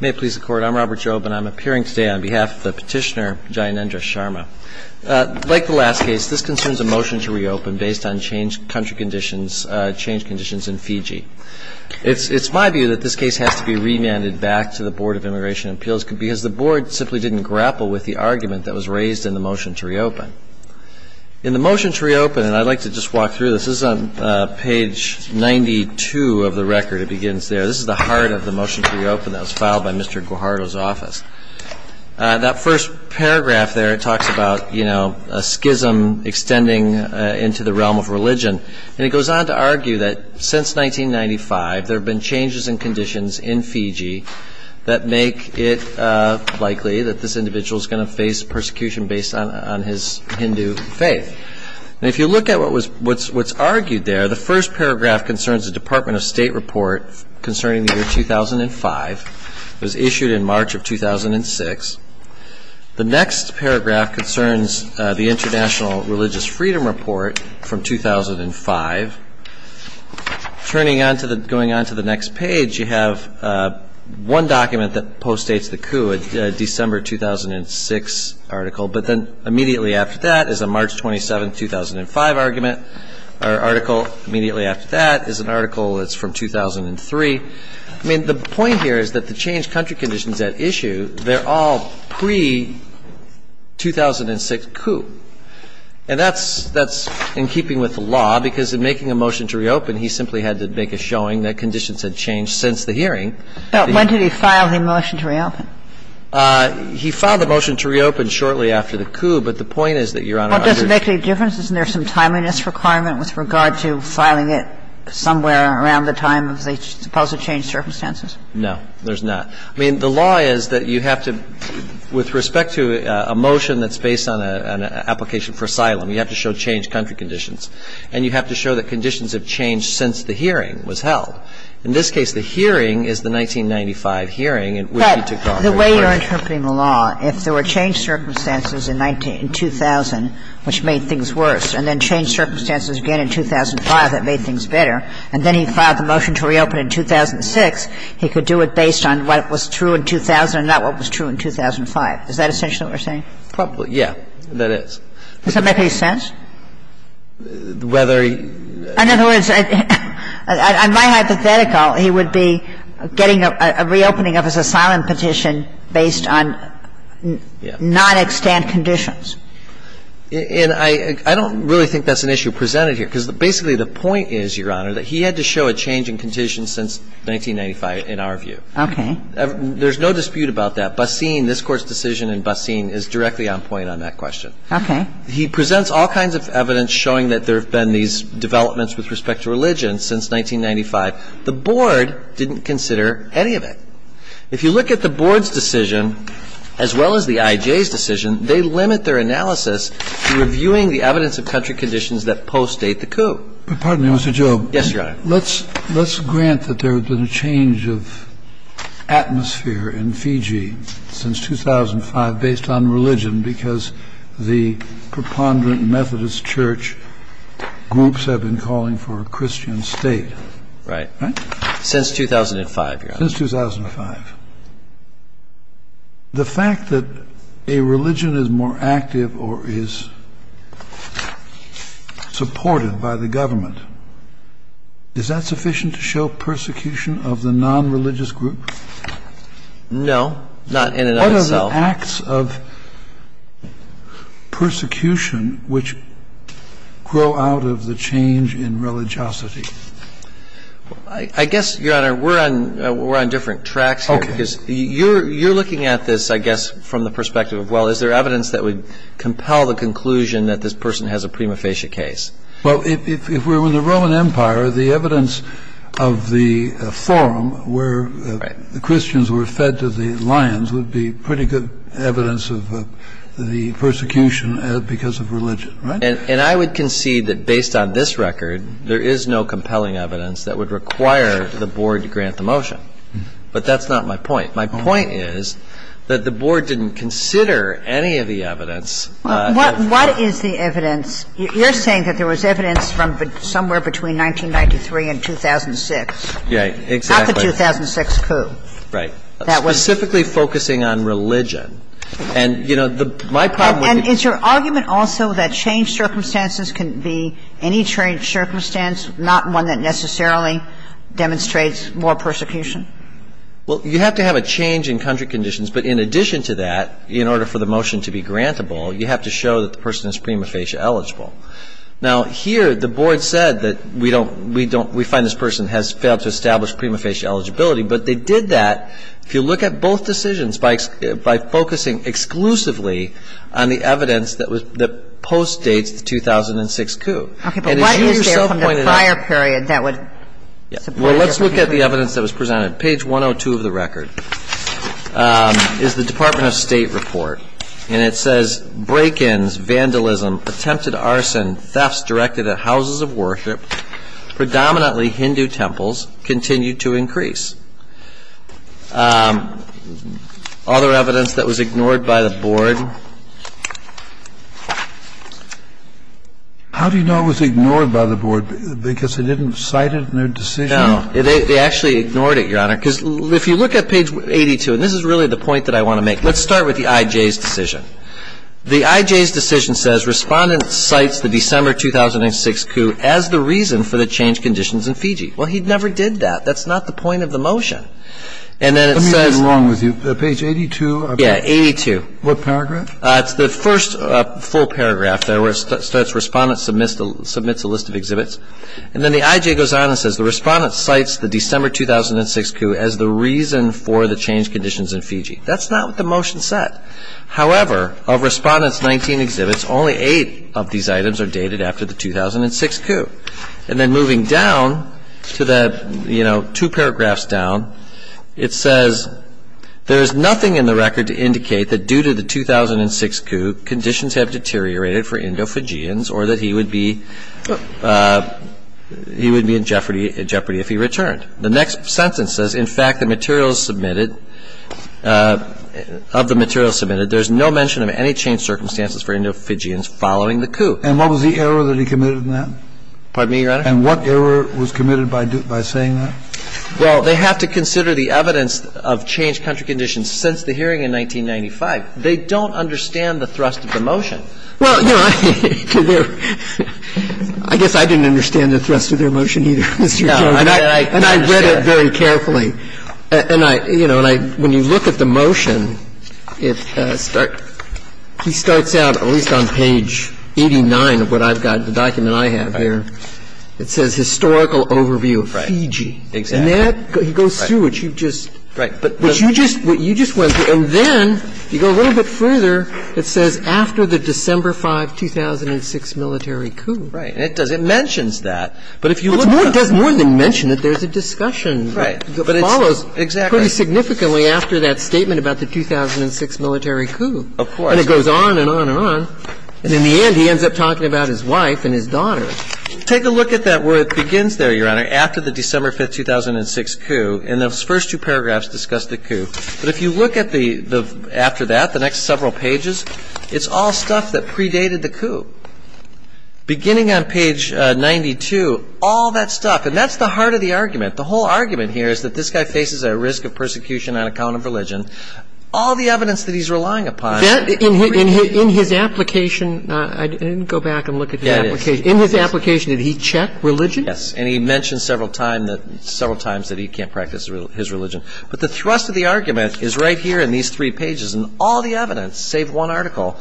May it please the Court, I'm Robert Jobe and I'm appearing today on behalf of the Petitioner, Jayanendra Sharma. Like the last case, this concerns a motion to reopen based on change country conditions, change conditions in Fiji. It's my view that this case has to be remanded back to the Board of Immigration Appeals because the Board simply didn't grapple with the argument that was raised in the motion to reopen. In the motion to reopen, and I'd like to just walk through this, this is on page 92 of the record, it begins there. This is the heart of the motion to reopen that was filed by Mr. Guajardo's office. That first paragraph there talks about, you know, a schism extending into the realm of religion. And it goes on to argue that since 1995 there have been changes in conditions in Fiji that make it likely that this individual is going to face persecution based on his Hindu faith. And if you look at what was, what's argued there, the first paragraph concerns a Department of State report concerning the year 2005. It was issued in March of 2006. The next paragraph concerns the International Religious Freedom Report from 2005. Turning on to the, going on to the next page, you have one document that postdates the coup, a December 2006 article. But then immediately after that is a March 27, 2005 argument. Our article immediately after that is an article that's from 2003. I mean, the point here is that the changed country conditions at issue, they're all pre-2006 coup. And that's, that's in keeping with the law, because in making a motion to reopen, he simply had to make a showing that conditions had changed since the hearing. But when did he file the motion to reopen? He filed the motion to reopen shortly after the coup, but the point is that, Your Honor, under the law, there's no reason to file a motion to reopen. But is there a reason to do that somewhere around the time of the supposed changed circumstances? No, there's not. I mean, the law is that you have to, with respect to a motion that's based on an application for asylum, you have to show changed country conditions. And you have to show that conditions have changed since the hearing was held. In this case, the hearing is the 1995 hearing. But the way you're interpreting the law, if there were changed circumstances in 2000, which made things worse, and then changed circumstances again in 2005, that made things better, and then he filed the motion to reopen in 2006, he could do it based on what was true in 2000 and not what was true in 2005. Is that essentially what you're saying? Probably, yeah. That is. Does that make any sense? Whether he — In other words, in my hypothetical, he would be getting a reopening of his asylum petition based on non-extant conditions. And I don't really think that's an issue presented here, because basically the point is, Your Honor, that he had to show a change in conditions since 1995, in our view. Okay. There's no dispute about that. Basin, this Court's decision in Basin, is directly on point on that question. Okay. He presents all kinds of evidence showing that there have been these developments with respect to religion since 1995. The Board didn't consider any of it. If you look at the Board's decision, as well as the I.J.'s decision, they limit their analysis to reviewing the evidence of country conditions that post-date the coup. But pardon me, Mr. Jobe. Yes, Your Honor. Let's grant that there have been a change of atmosphere in Fiji since 2005 based on religion, because the preponderant Methodist church groups have been calling for a Christian state. Right. Right? Since 2005, Your Honor. Since 2005. The fact that a religion is more active or is supported by the government, is that sufficient to show persecution of the non-religious group? No. Not in and of itself. It's the acts of persecution which grow out of the change in religiosity. I guess, Your Honor, we're on different tracks here, because you're looking at this, I guess, from the perspective of, well, is there evidence that would compel the conclusion that this person has a prima facie case? Well, if we're in the Roman Empire, the evidence of the forum where the There's no evidence of the persecution because of religion, right? And I would concede that based on this record, there is no compelling evidence that would require the Board to grant the motion. But that's not my point. My point is that the Board didn't consider any of the evidence. What is the evidence? You're saying that there was evidence from somewhere between 1993 and 2006. Yeah, exactly. Not the 2006 coup. Right. Specifically focusing on religion. And, you know, my problem with the And is your argument also that changed circumstances can be any changed circumstance, not one that necessarily demonstrates more persecution? Well, you have to have a change in country conditions. But in addition to that, in order for the motion to be grantable, you have to show that the person is prima facie eligible. Now, here the Board said that we don't, we don't, we find this person has failed to establish prima facie eligibility. But they did that, if you look at both decisions, by focusing exclusively on the evidence that postdates the 2006 coup. Okay. But what is there from the prior period that would support it? Well, let's look at the evidence that was presented. Page 102 of the record is the Department of State report. And it says break-ins, vandalism, attempted arson, thefts directed at houses of worship, predominantly Hindu temples, continue to increase. Other evidence that was ignored by the Board. How do you know it was ignored by the Board? Because they didn't cite it in their decision? No. They actually ignored it, Your Honor. Because if you look at page 82, and this is really the point that I want to make. Let's start with the IJ's decision. The IJ's decision says Respondent cites the December 2006 coup as the reason for the changed conditions in Fiji. Well, he never did that. That's not the point of the motion. And then it says. Let me get it wrong with you. Page 82. Yeah, 82. What paragraph? It's the first full paragraph there where it says Respondent submits a list of exhibits. And then the IJ goes on and says the Respondent cites the December 2006 coup as the reason for the changed conditions in Fiji. That's not what the motion said. However, of Respondent's 19 exhibits, only eight of these items are dated after the 2006 coup. And then moving down to the, you know, two paragraphs down, it says, there is nothing in the record to indicate that due to the 2006 coup, conditions have deteriorated for Indo-Fijians or that he would be in jeopardy if he returned. The next sentence says, in fact, the materials submitted, of the materials submitted, there's no mention of any changed circumstances for Indo-Fijians following the coup. And what was the error that he committed in that? Pardon me, Your Honor? And what error was committed by saying that? Well, they have to consider the evidence of changed country conditions since the hearing in 1995. They don't understand the thrust of the motion. Well, no. I guess I didn't understand the thrust of their motion either, Mr. Chairman. And I read it very carefully. And I, you know, when you look at the motion, it starts at least on page 89 of what I've got, the document I have here. It says historical overview of Fiji. Exactly. And that goes through what you just went through. And then you go a little bit further. It says after the December 5, 2006 military coup. Right. And it does. It mentions that. But if you look at it. It does more than mention it. There's a discussion that follows pretty significantly after that statement about the 2006 military coup. Of course. And it goes on and on and on. And in the end, he ends up talking about his wife and his daughter. Take a look at that where it begins there, Your Honor, after the December 5, 2006 coup. And those first two paragraphs discuss the coup. But if you look at the next several pages, it's all stuff that predated the coup. Beginning on page 92, all that stuff. And that's the heart of the argument. The whole argument here is that this guy faces a risk of persecution on account of religion. All the evidence that he's relying upon. In his application, I didn't go back and look at his application. In his application, did he check religion? Yes. And he mentioned several times that he can't practice his religion. But the thrust of the argument is right here in these three pages. And all the evidence, save one article,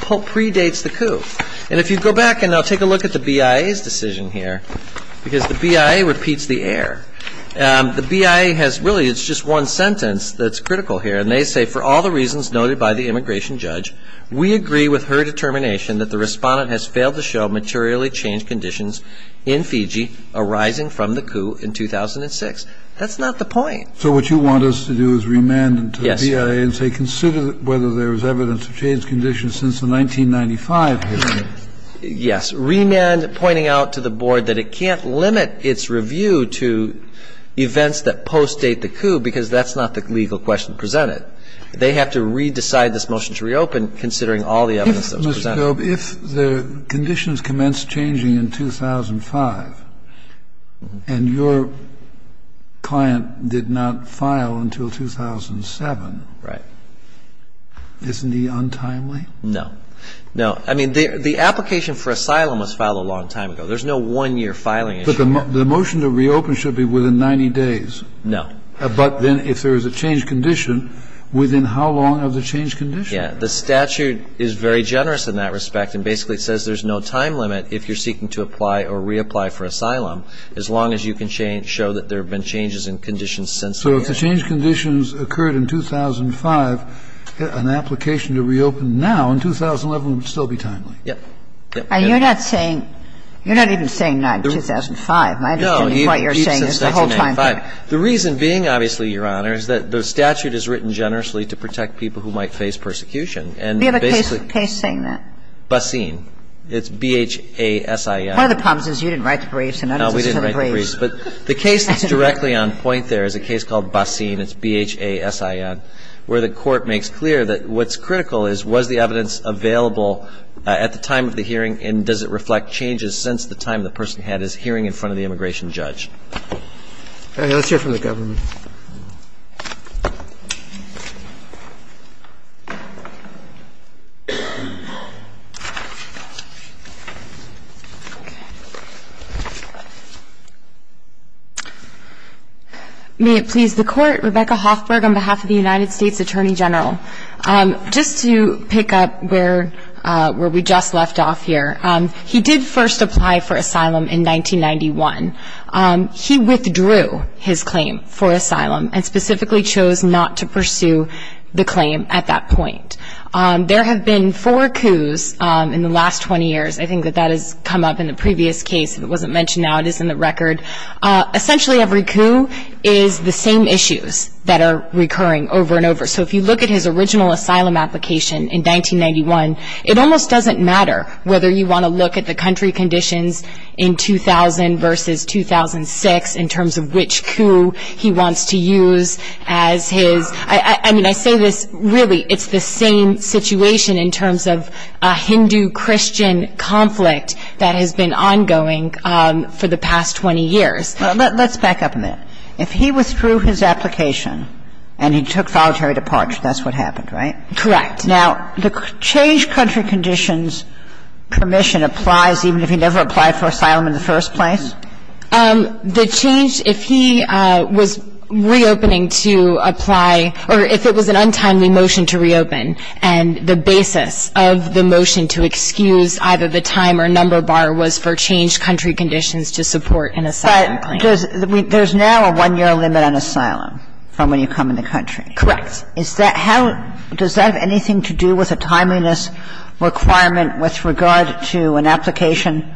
predates the coup. And if you go back and now take a look at the BIA's decision here, because the BIA repeats the error. The BIA has really, it's just one sentence that's critical here. And they say, for all the reasons noted by the immigration judge, we agree with her determination that the respondent has failed to show materially changed conditions in Fiji arising from the coup in 2006. That's not the point. So what you want us to do is remand them to the BIA and say, consider whether there was evidence of changed conditions since the 1995 hearing. Yes. Remand pointing out to the board that it can't limit its review to events that post-date the coup, because that's not the legal question presented. They have to re-decide this motion to reopen, considering all the evidence that was presented. Ms. Goeb, if the conditions commenced changing in 2005 and your client did not file until 2007. Right. Isn't he untimely? No. No. I mean, the application for asylum was filed a long time ago. There's no one-year filing issue here. But the motion to reopen should be within 90 days. No. But then if there is a changed condition, within how long of the changed condition? Yeah. The statute is very generous in that respect and basically says there's no time limit if you're seeking to apply or reapply for asylum, as long as you can show that there have been changes in conditions since the hearing. So if the changed conditions occurred in 2005, an application to reopen now in 2011 would still be timely. Yep. And you're not saying, you're not even saying not in 2005. No. I don't get what you're saying the whole time. The reason being, obviously, Your Honor, is that the statute is written generously to protect people who might face persecution. We have a case saying that. Basin. It's B-H-A-S-I-N. One of the problems is you didn't write the briefs. No, we didn't write the briefs. But the case that's directly on point there is a case called Basin, it's B-H-A-S-I-N, where the court makes clear that what's critical is was the evidence available at the time of the hearing and does it reflect changes since the time the person had his hearing in front of the immigration judge. All right. Let's hear from the government. May it please the Court, Rebecca Hoffberg on behalf of the United States Attorney General. Just to pick up where we just left off here, he did first apply for asylum in 1991. He withdrew his claim for asylum and specifically chose not to pursue the claim at that point. There have been four coups in the last 20 years. I think that that has come up in the previous case. It wasn't mentioned now. It is in the record. Essentially, every coup is the same issues that are recurring over and over. So if you look at his original asylum application in 1991, it almost doesn't matter whether you want to look at the country conditions in 2000 versus 2006 in terms of which coup he wants to use as his. I mean, I say this really it's the same situation in terms of a Hindu-Christian conflict that has been ongoing for the past 20 years. Well, let's back up a minute. If he withdrew his application and he took voluntary departure, that's what happened, right? Correct. Now, the changed country conditions permission applies even if he never applied for asylum in the first place? The change, if he was reopening to apply or if it was an untimely motion to reopen and the basis of the motion to excuse either the time or number bar was for changed country conditions to support an asylum claim. But there's now a one-year limit on asylum from when you come in the country. Correct. Is that how — does that have anything to do with a timeliness requirement with regard to an application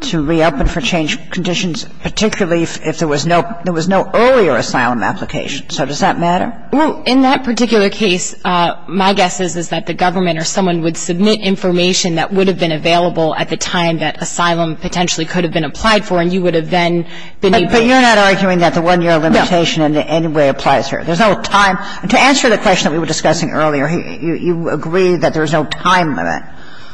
to reopen for changed conditions, particularly if there was no earlier asylum application? So does that matter? Well, in that particular case, my guess is, is that the government or someone would submit information that would have been available at the time that asylum potentially could have been applied for, and you would have then been able to — But you're not arguing that the one-year limitation in any way applies here. There's no time. To answer the question that we were discussing earlier, you agree that there's no time limit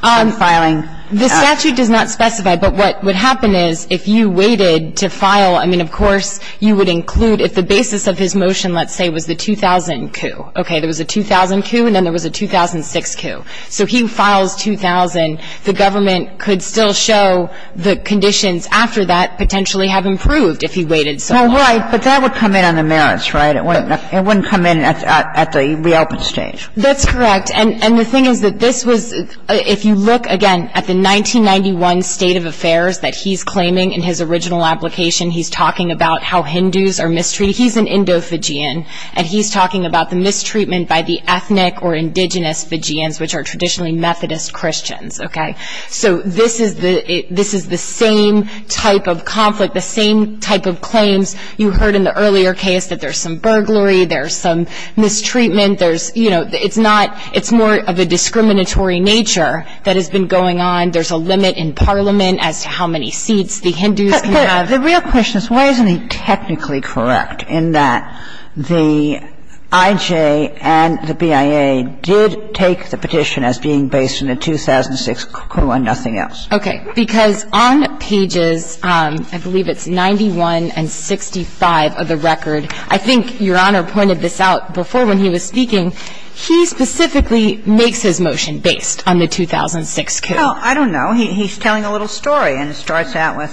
on filing. The statute does not specify. But what would happen is if you waited to file, I mean, of course, you would include if the basis of his motion, let's say, was the 2000 coup. Okay. There was a 2000 coup and then there was a 2006 coup. So he files 2000. The government could still show the conditions after that potentially have improved if he waited so long. Well, right. But that would come in on the merits, right? It wouldn't come in at the reopen stage. That's correct. And the thing is that this was — if you look, again, at the 1991 state of affairs that he's claiming in his original application, he's talking about how Hindus are mistreated. He's an Indo-Fijian, and he's talking about the mistreatment by the ethnic or indigenous Fijians, which are traditionally Methodist Christians, okay? So this is the same type of conflict, the same type of claims you heard in the earlier case that there's some burglary, there's some mistreatment, there's, you know, it's not — it's more of a discriminatory nature that has been going on. There's a limit in Parliament as to how many seats the Hindus can have. But the real question is why isn't he technically correct in that the IJ and the BIA did take the petition as being based on a 2006 coup and nothing else? Okay. Because on pages, I believe it's 91 and 65 of the record, I think Your Honor pointed this out before when he was speaking, he specifically makes his motion based on the 2006 coup. Well, I don't know. He's telling a little story, and it starts out with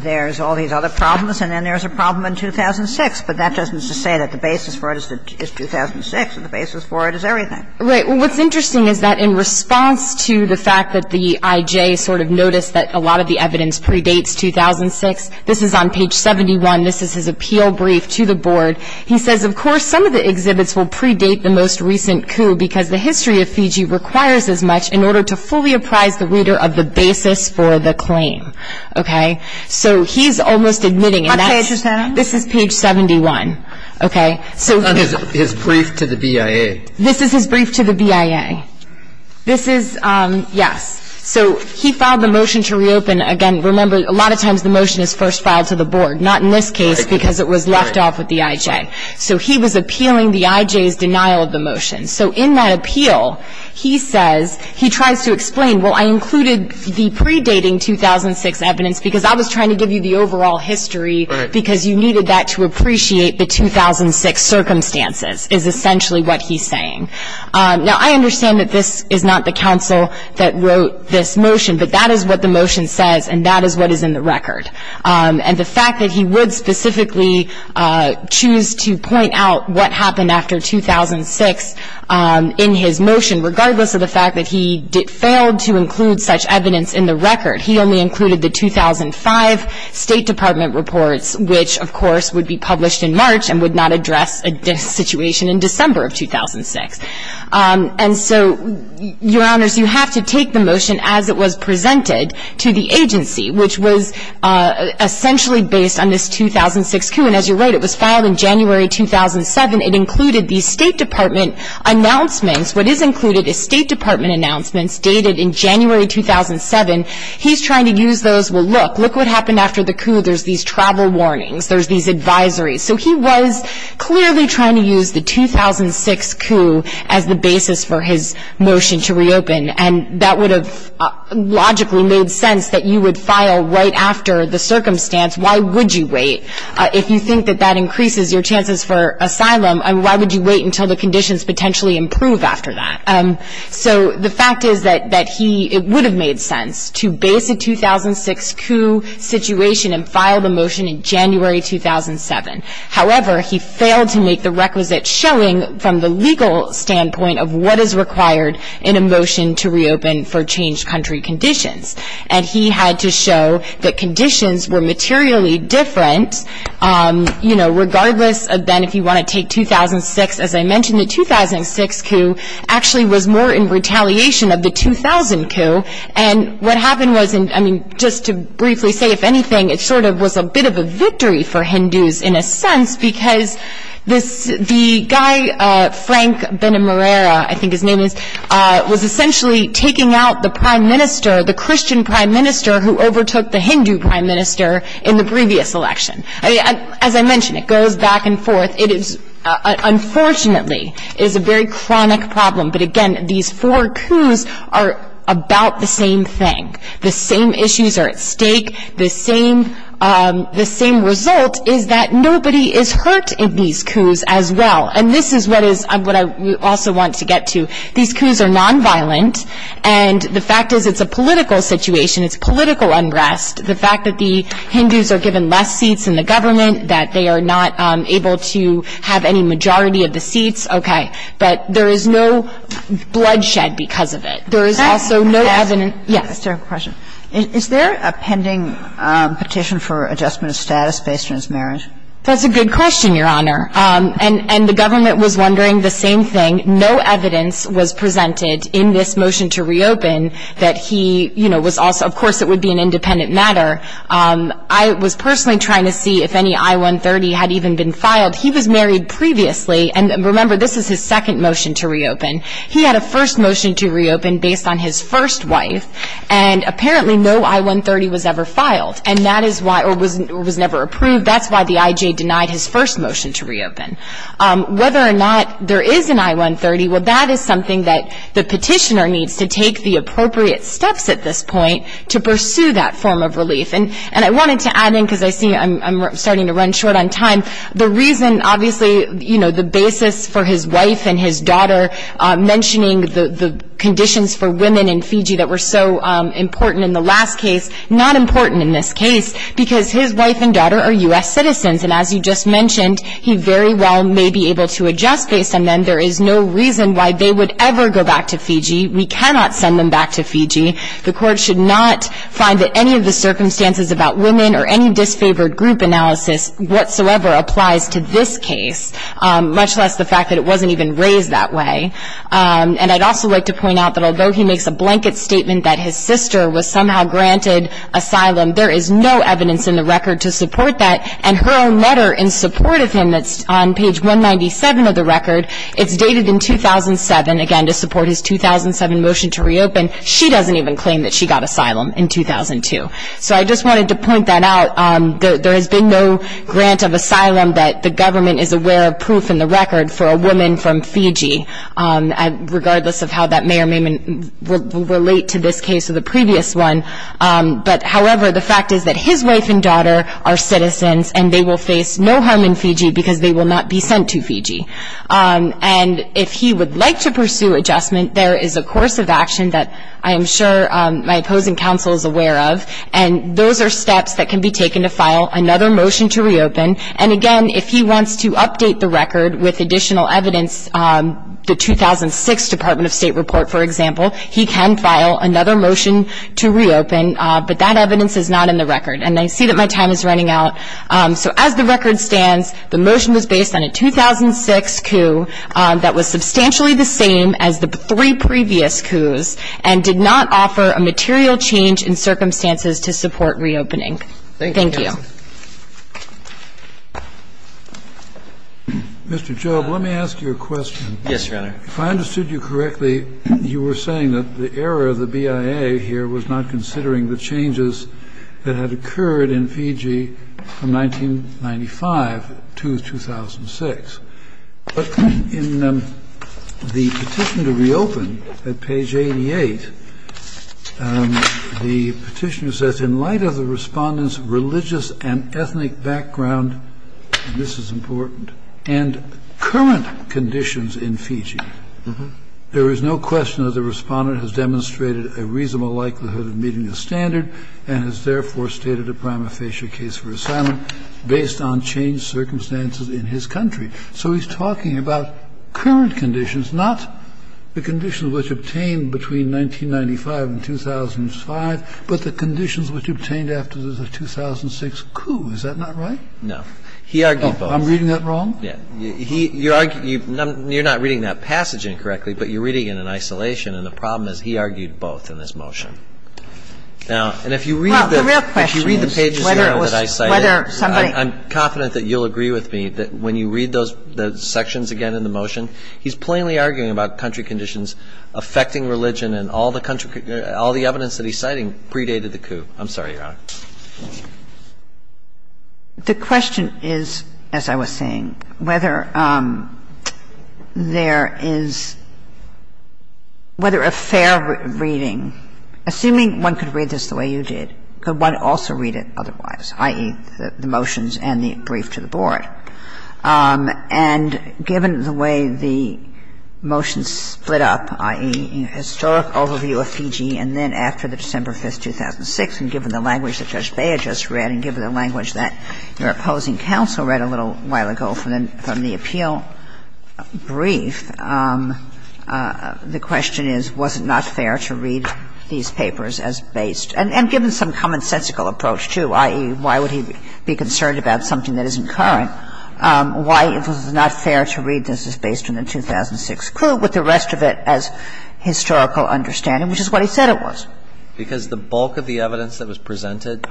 there's all these other problems and then there's a problem in 2006, but that doesn't say that the basis for it is 2006 and the basis for it is everything. Right. Well, what's interesting is that in response to the fact that the IJ sort of noticed that a lot of the evidence predates 2006, this is on page 71. This is his appeal brief to the board. He says, of course, some of the exhibits will predate the most recent coup because the history of Fiji requires as much in order to fully apprise the reader of the basis for the claim. Okay? So he's almost admitting, and that's — What page is that on? This is page 71. Okay? So — On his brief to the BIA. This is his brief to the BIA. This is — yes. So he filed the motion to reopen. Again, remember, a lot of times the motion is first filed to the board, not in this case because it was left off with the IJ. So he was appealing the IJ's denial of the motion. So in that appeal, he says — he tries to explain, well, I included the predating 2006 evidence because I was trying to give you the overall history because you needed that to appreciate the 2006 circumstances, is essentially what he's saying. Now, I understand that this is not the counsel that wrote this motion, but that is what the motion says, and that is what is in the record. And the fact that he would specifically choose to point out what happened after 2006 in his motion, regardless of the fact that he failed to include such evidence in the March and would not address a situation in December of 2006. And so, Your Honors, you have to take the motion as it was presented to the agency, which was essentially based on this 2006 coup. And as you're right, it was filed in January 2007. It included the State Department announcements. What is included is State Department announcements dated in January 2007. He's trying to use those. Well, look. Look what happened after the coup. There's these travel warnings. There's these advisories. So he was clearly trying to use the 2006 coup as the basis for his motion to reopen, and that would have logically made sense that you would file right after the circumstance. Why would you wait? If you think that that increases your chances for asylum, why would you wait until the conditions potentially improve after that? So the fact is that it would have made sense to base a 2006 coup situation and file the motion in January 2007. However, he failed to make the requisite showing from the legal standpoint of what is required in a motion to reopen for changed country conditions. And he had to show that conditions were materially different, you know, regardless of then if you want to take 2006. As I mentioned, the 2006 coup actually was more in retaliation of the 2000 coup. And what happened was, I mean, just to briefly say, if anything, it sort of was a bit of a victory for Hindus in a sense because the guy, Frank Benamurera, I think his name is, was essentially taking out the prime minister, the Christian prime minister who overtook the Hindu prime minister in the previous election. As I mentioned, it goes back and forth. Unfortunately, it is a very chronic problem. But again, these four coups are about the same thing. The same issues are at stake. The same result is that nobody is hurt in these coups as well. And this is what I also want to get to. These coups are nonviolent, and the fact is it's a political situation. It's political unrest. The fact that the Hindus are given less seats in the government, that they are not able to have any majority of the seats, okay. But there is no bloodshed because of it. There is also no evidence. Yes. Is there a pending petition for adjustment of status based on his marriage? That's a good question, Your Honor. And the government was wondering the same thing. No evidence was presented in this motion to reopen that he, you know, was also of course it would be an independent matter. I was personally trying to see if any I-130 had even been filed. He was married previously. And remember, this is his second motion to reopen. He had a first motion to reopen based on his first wife. And apparently no I-130 was ever filed. And that is why or was never approved. That's why the IJ denied his first motion to reopen. Whether or not there is an I-130, well, that is something that the petitioner needs to take the appropriate steps at this point to pursue that form of relief. And I wanted to add in because I see I'm starting to run short on time. The reason obviously, you know, the basis for his wife and his daughter mentioning the conditions for women in Fiji that were so important in the last case, not important in this case because his wife and daughter are U.S. citizens. And as you just mentioned, he very well may be able to adjust based on them. There is no reason why they would ever go back to Fiji. We cannot send them back to Fiji. The court should not find that any of the circumstances about women or any disfavored group analysis whatsoever applies to this case, much less the fact that it wasn't even raised that way. And I'd also like to point out that although he makes a blanket statement that his sister was somehow granted asylum, there is no evidence in the record to support that. And her own letter in support of him that's on page 197 of the record, it's dated in 2007, again to support his 2007 motion to reopen. She doesn't even claim that she got asylum in 2002. So I just wanted to point that out. There has been no grant of asylum that the government is aware of proof in the record for a woman from Fiji, regardless of how that may or may not relate to this case or the previous one. But however, the fact is that his wife and daughter are citizens, and they will face no harm in Fiji because they will not be sent to Fiji. And if he would like to pursue adjustment, there is a course of action that I am sure my opposing counsel is aware of, and those are steps that can be taken to file another motion to reopen. And, again, if he wants to update the record with additional evidence, the 2006 Department of State report, for example, he can file another motion to reopen, but that evidence is not in the record. And I see that my time is running out. So as the record stands, the motion was based on a 2006 coup that was substantially the same as the three previous coups and did not offer a material change in circumstances to support reopening. Thank you. Mr. Job, let me ask you a question. Yes, Your Honor. If I understood you correctly, you were saying that the error of the BIA here was not considering the changes that had occurred in Fiji from 1995 to 2006. But in the petition to reopen at page 88, the petitioner says, in light of the Respondent's religious and ethnic background, this is important, and current conditions in Fiji, there is no question that the Respondent has demonstrated a reasonable likelihood of meeting the standard and has therefore stated a prima facie case for asylum based on changed circumstances in his country. So he's talking about current conditions, not the conditions which obtained between 1995 and 2005, but the conditions which obtained after the 2006 coup. Is that not right? No. He argued both. I'm reading that wrong? Yeah. You're not reading that passage incorrectly, but you're reading it in isolation, and the problem is he argued both in this motion. Now, and if you read the pages that I cited, I'm confident that you'll agree with me that when you read those sections again in the motion, he's plainly arguing about country conditions affecting religion, and all the evidence that he's citing predated the coup. I'm sorry, Your Honor. The question is, as I was saying, whether there is – whether there is a reasonable – whether a fair reading – assuming one could read this the way you did, could one also read it otherwise, i.e., the motions and the brief to the board? And given the way the motions split up, i.e., historic overview of Fiji and then after the December 5, 2006, and given the language that Judge Beyer just read and given the language that your opposing counsel read a little while ago from the appeal brief, the question is, was it not fair to read these papers as based – and given some commonsensical approach, too, i.e., why would he be concerned about something that isn't current, why it was not fair to read this as based on the 2006 coup with the rest of it as historical understanding, which is what he said it was. And I think that's a good point, Your Honor, because the bulk of the evidence that was presented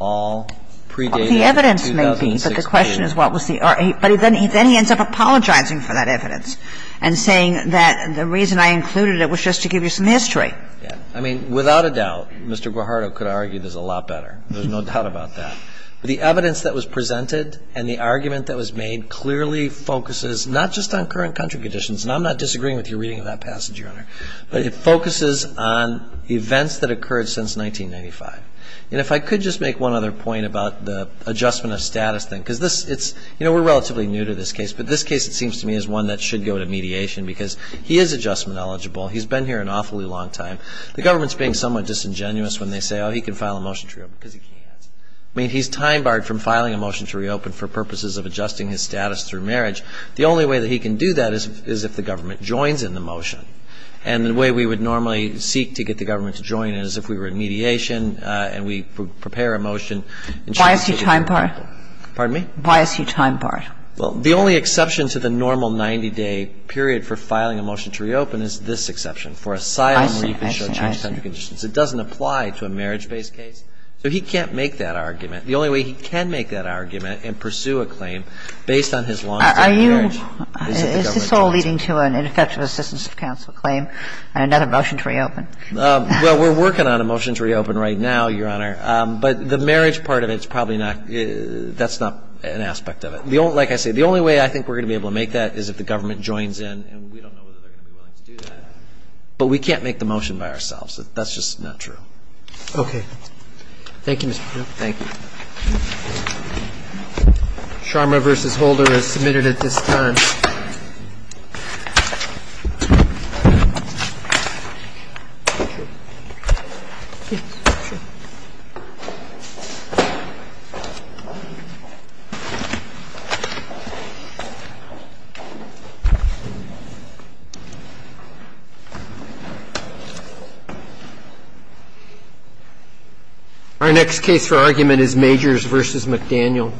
all predated the 2006 case. The evidence may be, but the question is what was the – but then he ends up apologizing for that evidence and saying that the reason I included it was just to give you some history. Yes. I mean, without a doubt, Mr. Guajardo could argue this a lot better. There's no doubt about that. But the evidence that was presented and the argument that was made clearly focuses not just on current country conditions, and I'm not disagreeing with your reading of that passage, Your Honor, but it focuses on events that occurred since 1995. And if I could just make one other point about the adjustment of status thing, because this – it's – you know, we're relatively new to this case, but this case, it seems to me, is one that should go to mediation because he is adjustment eligible. He's been here an awfully long time. The government's being somewhat disingenuous when they say, oh, he can file a motion to reopen because he can't. I mean, he's time barred from filing a motion to reopen for purposes of adjusting his status through marriage. The only way that he can do that is if the government joins in the motion. And the way we would normally seek to get the government to join in is if we were in mediation and we prepare a motion. Why is he time barred? Pardon me? Why is he time barred? Well, the only exception to the normal 90-day period for filing a motion to reopen is this exception, for asylum where you can show changed country conditions. I see. I see. I see. It doesn't apply to a marriage-based case. So he can't make that argument. The only way he can make that argument and pursue a claim based on his long-term marriage is if the government joins in. Are you – is this all leading to an ineffective assistance of counsel claim and another motion to reopen? Well, we're working on a motion to reopen right now, Your Honor. But the marriage part of it is probably not – that's not an aspect of it. Like I say, the only way I think we're going to be able to make that is if the government joins in. And we don't know whether they're going to be willing to do that. But we can't make the motion by ourselves. That's just not true. Okay. Thank you, Mr. Piotrowski. Thank you. Sharma v. Holder is submitted at this time. Our next case for argument is Majors v. McDaniel. Thank you, Your Honor.